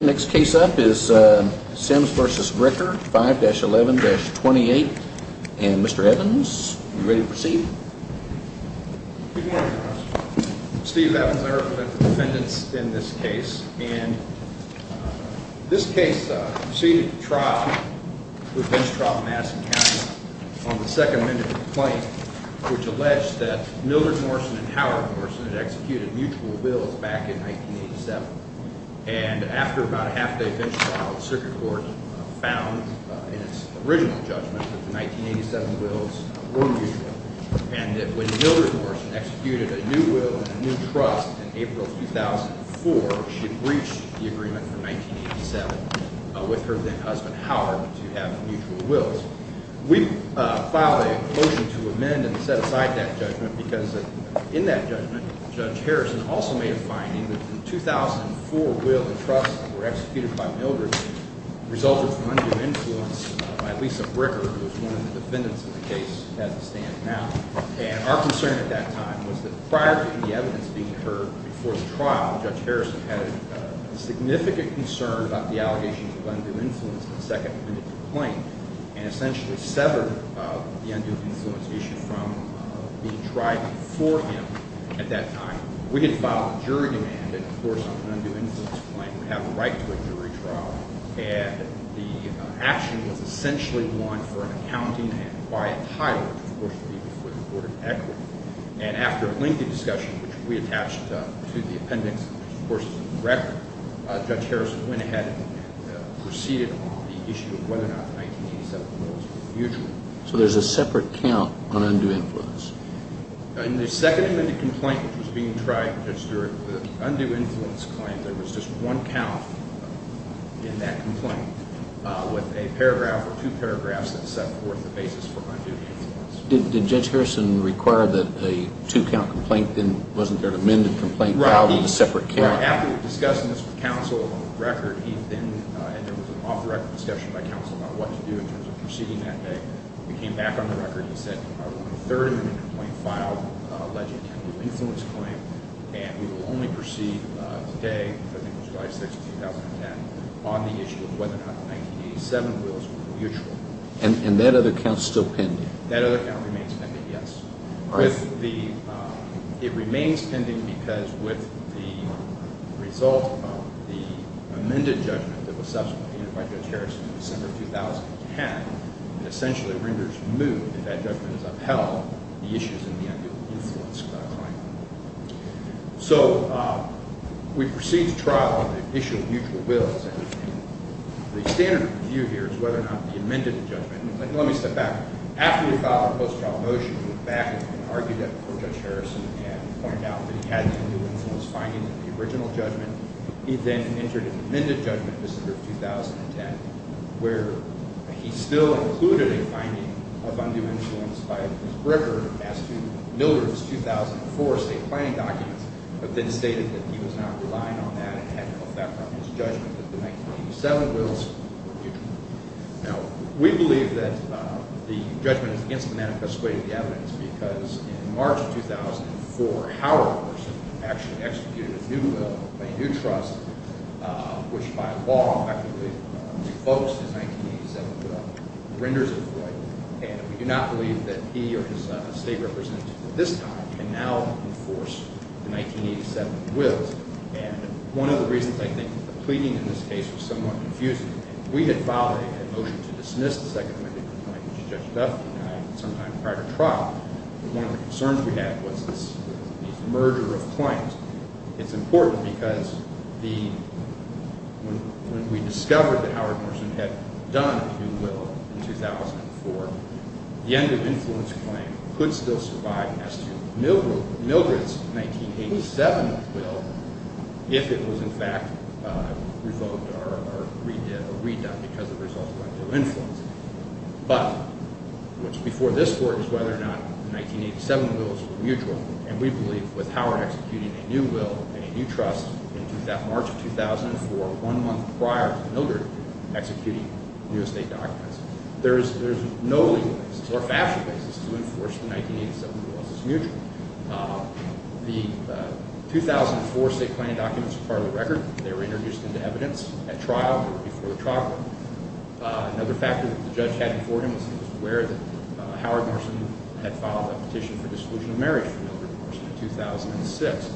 Next case up is Sims v. Bricker, 5-11-28. And Mr. Evans, are you ready to proceed? Good morning. Steve Evans, I represent the defendants in this case. And this case proceeded to trial with Vince Traub, Madison County, on the second amended complaint which alleged that about a half-day finish trial of the circuit court found in its original judgment that the 1987 wills were mutual. And that when Hildreth Morrison executed a new will and a new trust in April 2004, she breached the agreement from 1987 with her then-husband Howard to have mutual wills. We filed a motion to amend and set aside that judgment because in that judgment, Judge Harrison also made a finding that the 2004 will and trust that were executed by Hildreth resulted from undue influence by Lisa Bricker, who is one of the defendants in the case, as it stands now. And our concern at that time was that prior to the evidence being heard before the trial, Judge Harrison had a significant concern about the allegations of undue influence in the second amended complaint and essentially severed the undue influence issue from being tried before him at that time. We had filed a jury demand and, of course, on an undue influence claim to have the right to a jury trial. And the action was essentially one for an accounting and quiet title, which of course would be before the Court of Equity. And after a lengthy discussion, which we attached to the appendix, which of course is in the record, Judge Harrison went ahead and proceeded on the issue of whether or not the 1987 wills were mutual. So there's a separate count on undue influence. In the second amended complaint which was being tried, Judge Stewart, the undue influence claim, there was just one count in that complaint with a paragraph or two paragraphs that set forth the basis for undue influence. Did Judge Harrison require that a two-count complaint then wasn't their amended complaint filed with a separate count? Right. After discussing this with counsel on record, he then, and there was an off-record discussion by counsel about what to do in terms of proceeding that day, we came back on the record and said, we want a third amendment complaint filed alleging an undue influence claim, and we will only proceed today, I think it was July 6, 2010, on the issue of whether or not the 1987 wills were mutual. And that other count's still pending? That other count remains pending, yes. It remains pending because with the result of the amended judgment that was subsequently handed by Judge Harrison in December of 2010, it essentially renders moot, if that judgment is upheld, the issues in the undue influence claim. So we proceed to trial on the issue of mutual wills, and the standard view here is whether or not the amended judgment, and let me step back. After we filed a post-trial motion, we went back and argued that before Judge Harrison and pointed out that he had to do with the original judgment, he then entered an amended judgment in December of 2010, where he still included a finding of undue influence by Bruce Brecker as to Miller's 2004 state planning documents, but then stated that he was not relying on that and had no effect on his judgment that the 1987 wills were mutual. Now, we believe that the judgment is against the evidence because in March of 2004, Howard actually executed a new will, a new trust, which by law effectively revokes his 1987 will, renders it void, and we do not believe that he or his state representative at this time can now enforce the 1987 wills. And one of the reasons, I think, the pleading in this case was somewhat confusing. We had filed a motion to dismiss the prior trial, but one of the concerns we had was this merger of claims. It's important because when we discovered that Howard Morrison had done a new will in 2004, the end of influence claim could still survive as to Mildred's 1987 will if it was in fact revoked or redone because of undue influence. But what's before this court is whether or not the 1987 wills were mutual, and we believe with Howard executing a new will and a new trust in March of 2004, one month prior to Mildred executing the new estate documents, there's no legal basis or factual basis to enforce the 1987 wills as mutual. The 2004 state planning documents are part of the record. They were introduced into evidence at trial or before the trial. Another factor that the judge had before him was he was aware that Howard Morrison had filed a petition for dissolution of marriage for Mildred Morrison in 2006.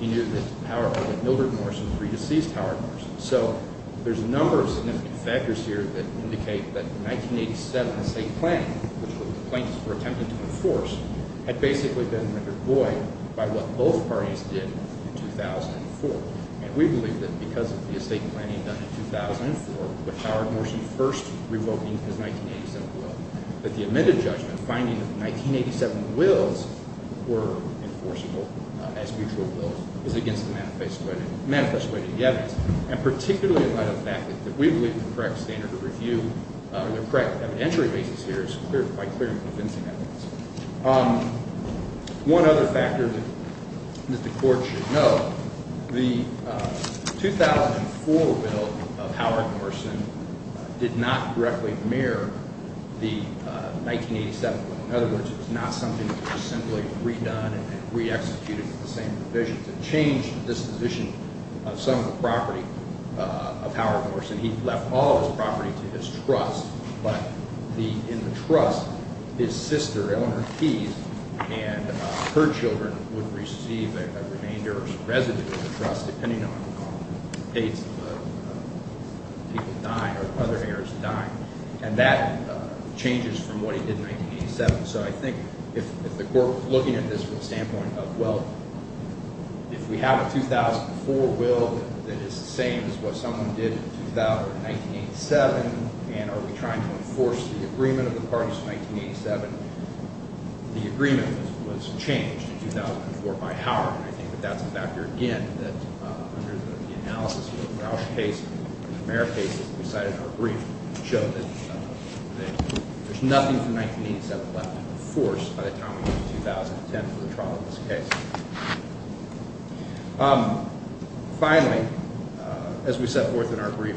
He knew that Mildred Morrison pre-deceased Howard Morrison. So there's a number of significant factors here that indicate that the 1987 state planning, which the plaintiffs were attempting to enforce, had basically been rendered void by what both and we believe that because of the estate planning done in 2004, with Howard Morrison first revoking his 1987 will, that the admitted judgment finding that the 1987 wills were enforceable as mutual wills is against the manifest way to get it. And particularly in light of the fact that we believe the correct standard of review, the correct evidentiary basis here is by clear and convincing evidence. One other factor that the court should note, the 2004 will of Howard Morrison did not directly mirror the 1987 will. In other words, it was not something that was simply redone and re-executed with the same provisions. It changed the disposition of some of the property of Howard Morrison. He left all of his property to his trust, but in the trust, his sister, Eleanor Keyes, and her children would receive a remainder or residue of the trust depending on the dates of the people dying or other heirs dying. And that changes from what he did in 1987. So I think if the court, looking at this from the standpoint of, well, if we have a 2004 will that is the same as what someone did in 1987, and are we trying to enforce the agreement of the parties in 1987? The agreement was changed in 2004 by Howard. I think that that's a factor, again, that under the analysis of the Rausch case and the Merritt case that we cited in our brief showed that there's nothing from 1987 left to enforce by the time 2010 for the trial of this case. Finally, as we set forth in our brief,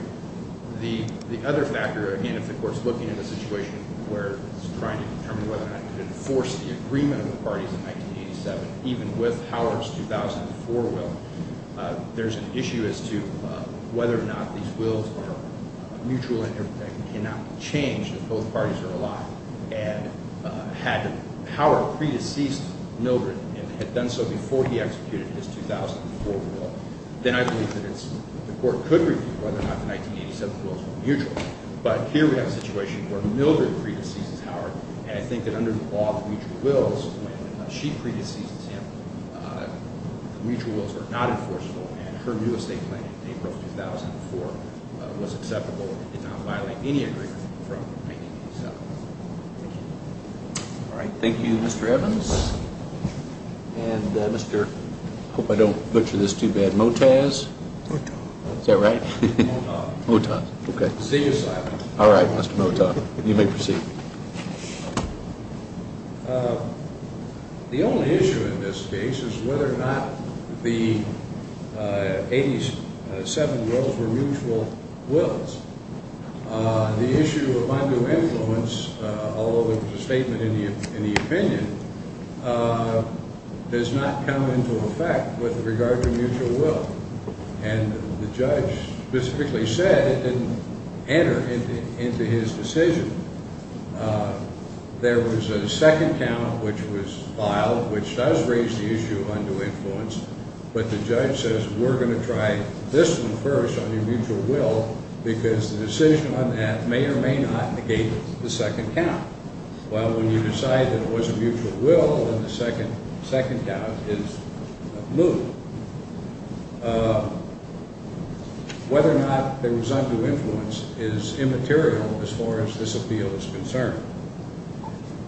the other factor, again, if the court's looking at a situation where it's trying to determine whether or not to enforce the agreement of the parties in 1987, even with Howard's 2004 will, there's an issue as to whether or not these wills are mutual and cannot change if both parties are Mildred and had done so before he executed his 2004 will, then I believe that the court could review whether or not the 1987 wills were mutual. But here we have a situation where Mildred predeceases Howard, and I think that under all the mutual wills, when she predeceases him, the mutual wills are not enforceable, and her new estate plan in April 2004 was acceptable and did not violate any agreement from 1987. Thank you. All right. Thank you, Mr. Evans. And Mr. I hope I don't butcher this too bad, Motaz? Motaz. Is that right? Motaz. Motaz. Okay. See you, Simon. All right, Mr. Motaz. You may proceed. The only issue in this case is whether or not the 87 wills were mutual wills. The issue of undue influence, although there was a statement in the opinion, does not come into effect with regard to mutual will, and the judge specifically said it didn't enter into his decision. There was a second count which was filed which does raise the issue of undue influence, but the judge says we're going to try this one first on your mutual will because the decision on that may or may not negate the second count. Well, when you decide that it was a mutual will, then the second count is moved. Whether or not there was undue influence is immaterial as far as this appeal is concerned.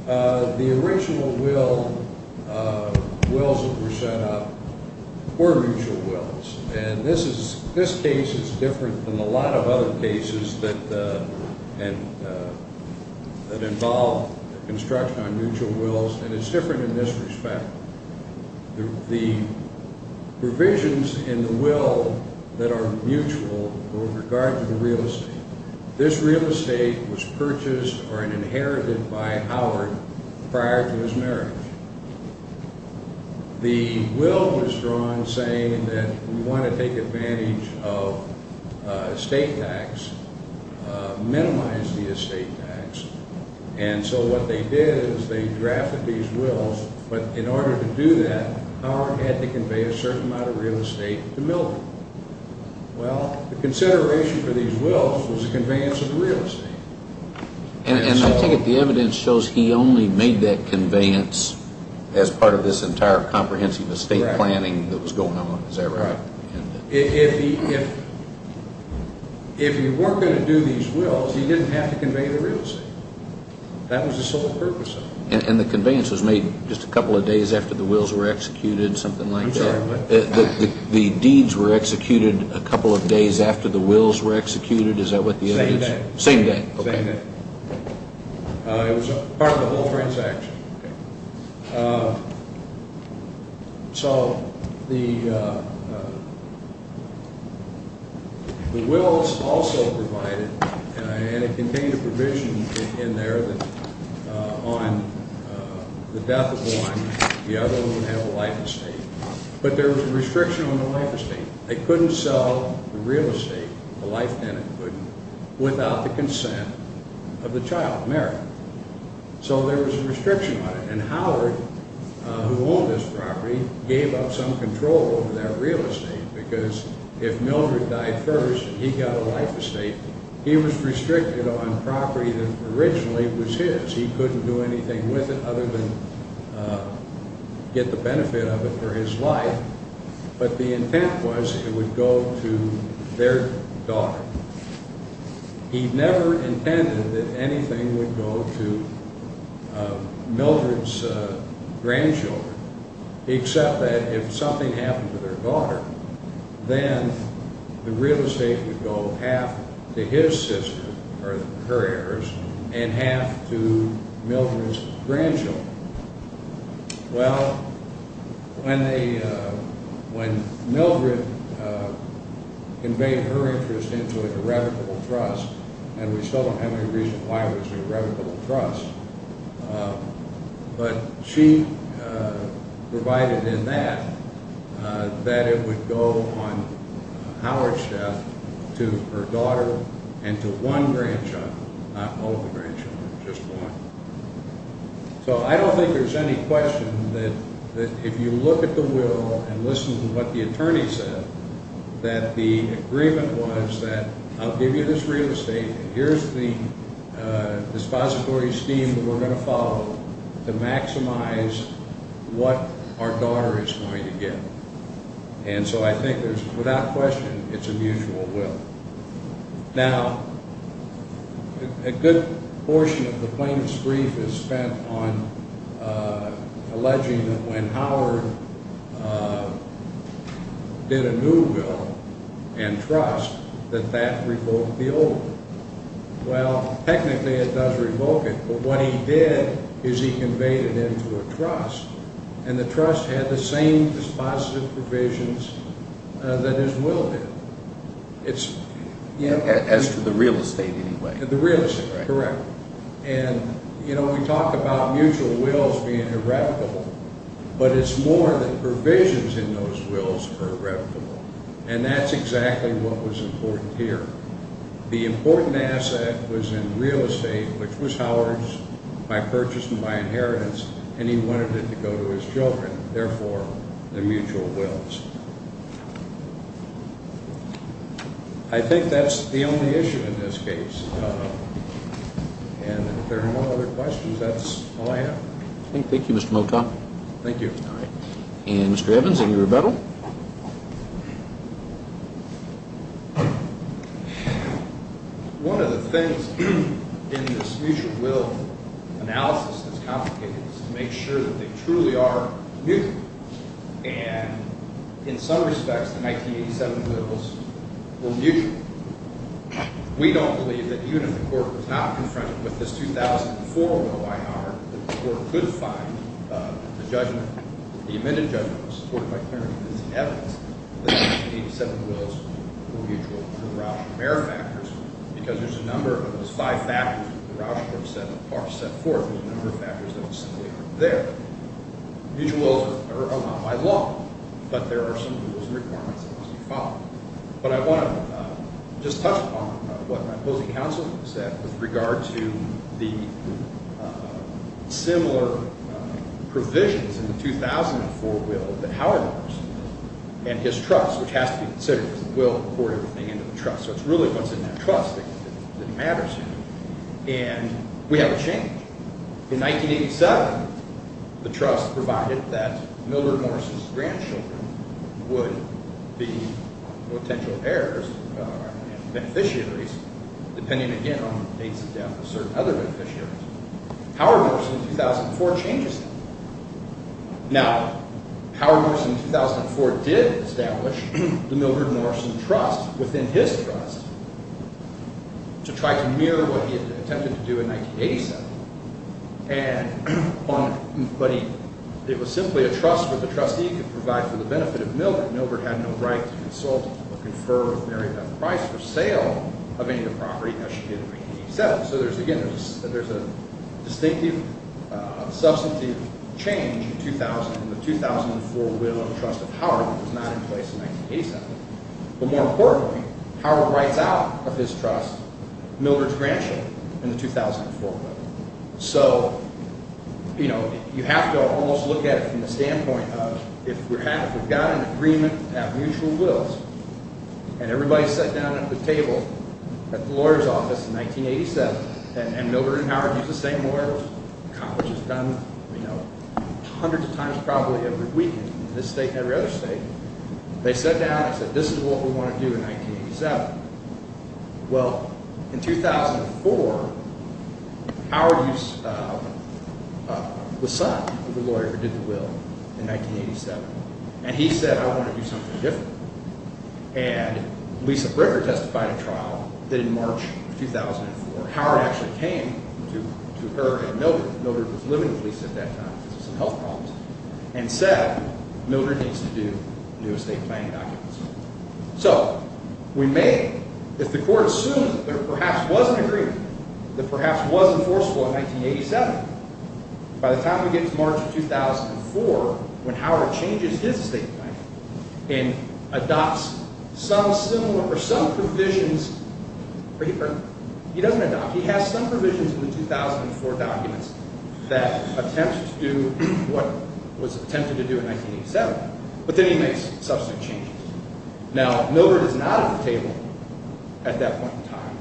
The original wills that were set up were mutual cases that involved construction on mutual wills, and it's different in this respect. The provisions in the will that are mutual with regard to the real estate, this real estate was purchased or inherited by Howard prior to his marriage. The will was drawn saying that we want to take advantage of estate tax, minimize the estate tax, and so what they did is they drafted these wills, but in order to do that, Howard had to convey a certain amount of real estate to Milton. Well, the consideration for these wills was the conveyance of the real estate. And I think the evidence shows he only made that conveyance as part of this entire comprehensive estate planning that was going on, is that right? If he weren't going to do these wills, he didn't have to convey the real estate. That was the sole purpose of it. And the conveyance was made just a couple of days after the wills were executed, something like that? I'm sorry, what? The deeds were executed a couple of days after the wills were executed, is that what the evidence? Same day. Same day, okay. It was part of the whole transaction. So the wills also provided, and it contained a provision in there on the death of one, the other one would have a life estate, but there was a restriction on the life estate. They couldn't sell the real estate, the life tenant couldn't, without the consent of the child, Merrick. So there was a restriction on it. And Howard, who owned this property, gave up some control over that real estate because if Mildred died first and he got a life estate, he was restricted on property that originally was his. He couldn't do anything with it other than get the benefit of it for his life. But the intent was it would go to their daughter. He never intended that anything would go to Mildred's grandchildren, except that if something happened to their daughter, then the real estate would go half to his sister, or her heirs, and half to Mildred's grandchildren. Well, when Mildred conveyed her interest into an irrevocable trust, and we still don't have any reason why it was an irrevocable trust, but she provided in that that it would go on Howard's death to her daughter and to one grandchild, not all of the grandchildren, just one. So I don't think there's any question that if you look at the will and listen to what the attorney said, that the agreement was that, I'll give you this real estate, and here's the dispository scheme that we're going to follow to maximize what our daughter is going to get. And so I think there's, without question, it's a mutual will. Now, a good portion of the plaintiff's brief is spent on alleging that when Howard did a new will and trust, that that revoked the old one. Well, technically it does revoke it, but what he did is he conveyed it into a trust, and the trust had the same dispositive provisions that his will did. As to the real estate, anyway. The real estate, correct. And, you know, we talked about mutual wills being irrevocable, but it's more that provisions in those wills are irrevocable, and that's exactly what was important here. The important asset was in real estate, which was Howard's, by purchase and by his children, therefore the mutual wills. I think that's the only issue in this case, and if there are no other questions, that's all I have. Thank you, Mr. Motok. Thank you. All right, and Mr. Evans, any rebuttal? One of the things in this mutual will analysis that's complicated is to make sure that they truly are mutual, and in some respects, the 1987 wills were mutual. We don't believe that even if the court was not confronted with this 2004 will by Howard, that the court could find the judgment, the amended judgment, supported by clear and convincing evidence, that the 1987 wills were mutual under Rausch and Merrifactors, because there's a number of those five factors that the Rausch court set forth, there's a number of factors that are simply there. Mutual wills are not by law, but there are some rules and requirements that must be followed. But I want to just touch upon what my opposing counsel said with regard to the similar provisions in the 2004 will that Howard and his trust, which has to be considered, because the will poured everything into the trust, so it's really what's in that trust that matters here, and we have a change. In 1987, the trust provided that Mildred Morrison's grandchildren would be potential heirs and beneficiaries, depending again on the dates of death of certain other beneficiaries. Howard Morrison in 2004 changes that. Now, Howard Morrison in 2004 did establish the Mildred Morrison trust within his trust to try to mirror what he had attempted to do in 1987, and on, but he, it was simply a trust where the trustee could provide for the benefit of Mildred. Mildred had no right to consult or confer with Mary Beth Price for sale of any of the property that she did in 1987. So there's, again, there's a distinctive, substantive change in 2000 in the 2004 will of the trust of Howard that was not in place in 1987, but more importantly, Howard writes out of his trust Mildred's grandchildren in the 2004 will. So, you know, you have to almost look at it from the standpoint of if we're happy, if we've got an agreement to have mutual wills, and everybody sat down at the table at the lawyer's office in 1987, and Mildred and Howard used the same lawyers, accomplishes done, you know, hundreds of times probably every weekend in this state and every other state, they sat down and said, this is what we want to do in 1987. Well, in 2004, Howard used the son of the lawyer who did the will in 1987, and he said, I want to do something different. And Lisa Bricker testified at trial that in March 2004, Howard actually came to her and Mildred, Mildred was living with Lisa at that time because of some health problems, and said Mildred needs to do new estate planning documents. So we may, if the court assumes that there perhaps was an agreement that perhaps was enforceable in 1987, by the time we get to March 2004, when Howard changes his estate plan and adopts some similar, or some provisions, he doesn't adopt, he has some provisions in the 2004 documents that attempt to do what was attempted to do in 1987, but then he makes substantive changes. Now, Mildred is not at the table at that point in time,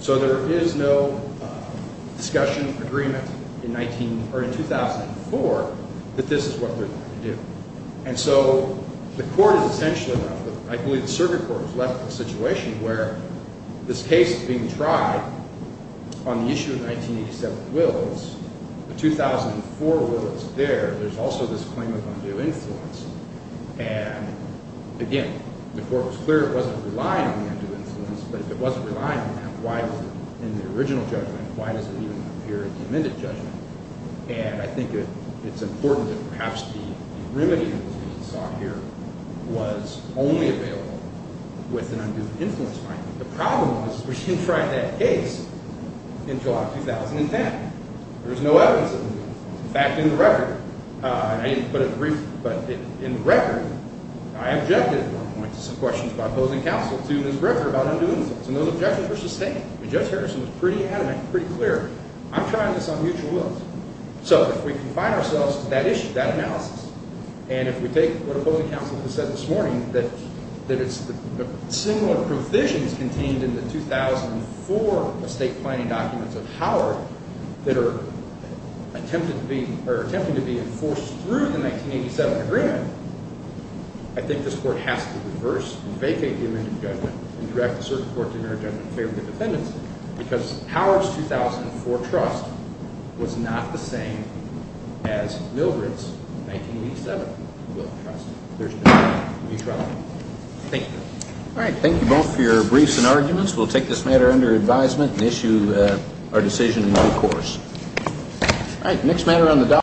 so there is no discussion, agreement in 19, or in 2004, that this is what they're going to do. And so the court is essentially left with, I believe the circuit court was left with a situation where this case is being tried on the issue of 1987 wills, the 2004 will is there, there's also this claim of undue influence, and again, the court was clear it wasn't relying on the undue influence, but if it wasn't relying on that, why was it in the original judgment, why does it even appear in the amended judgment? And I think it's important that perhaps the remedy that we saw here was only available with an undue influence finding. The problem was we didn't try that case in July 2010. There was no evidence of undue influence. In fact, in the record, and I didn't put a brief, but in the record, I objected at one point to some questions by opposing counsel to Ms. Jefferson's statement. Judge Harrison was pretty adamant, pretty clear, I'm trying this on mutual wills. So if we confine ourselves to that issue, that analysis, and if we take what opposing counsel has said this morning, that it's the similar provisions contained in the 2004 estate planning documents of Howard that are attempting to be enforced through the 1987 agreement, I think this court has to reverse and vacate the amended judgment and direct the circuit court to enter it under the favor of the defendants, because Howard's 2004 trust was not the same as Milbritt's 1987 will trust. There's been no new trial. Thank you. All right, thank you both for your briefs and arguments. We'll take this matter under advisement and issue our decision in another course. All right, next matter on the dollar.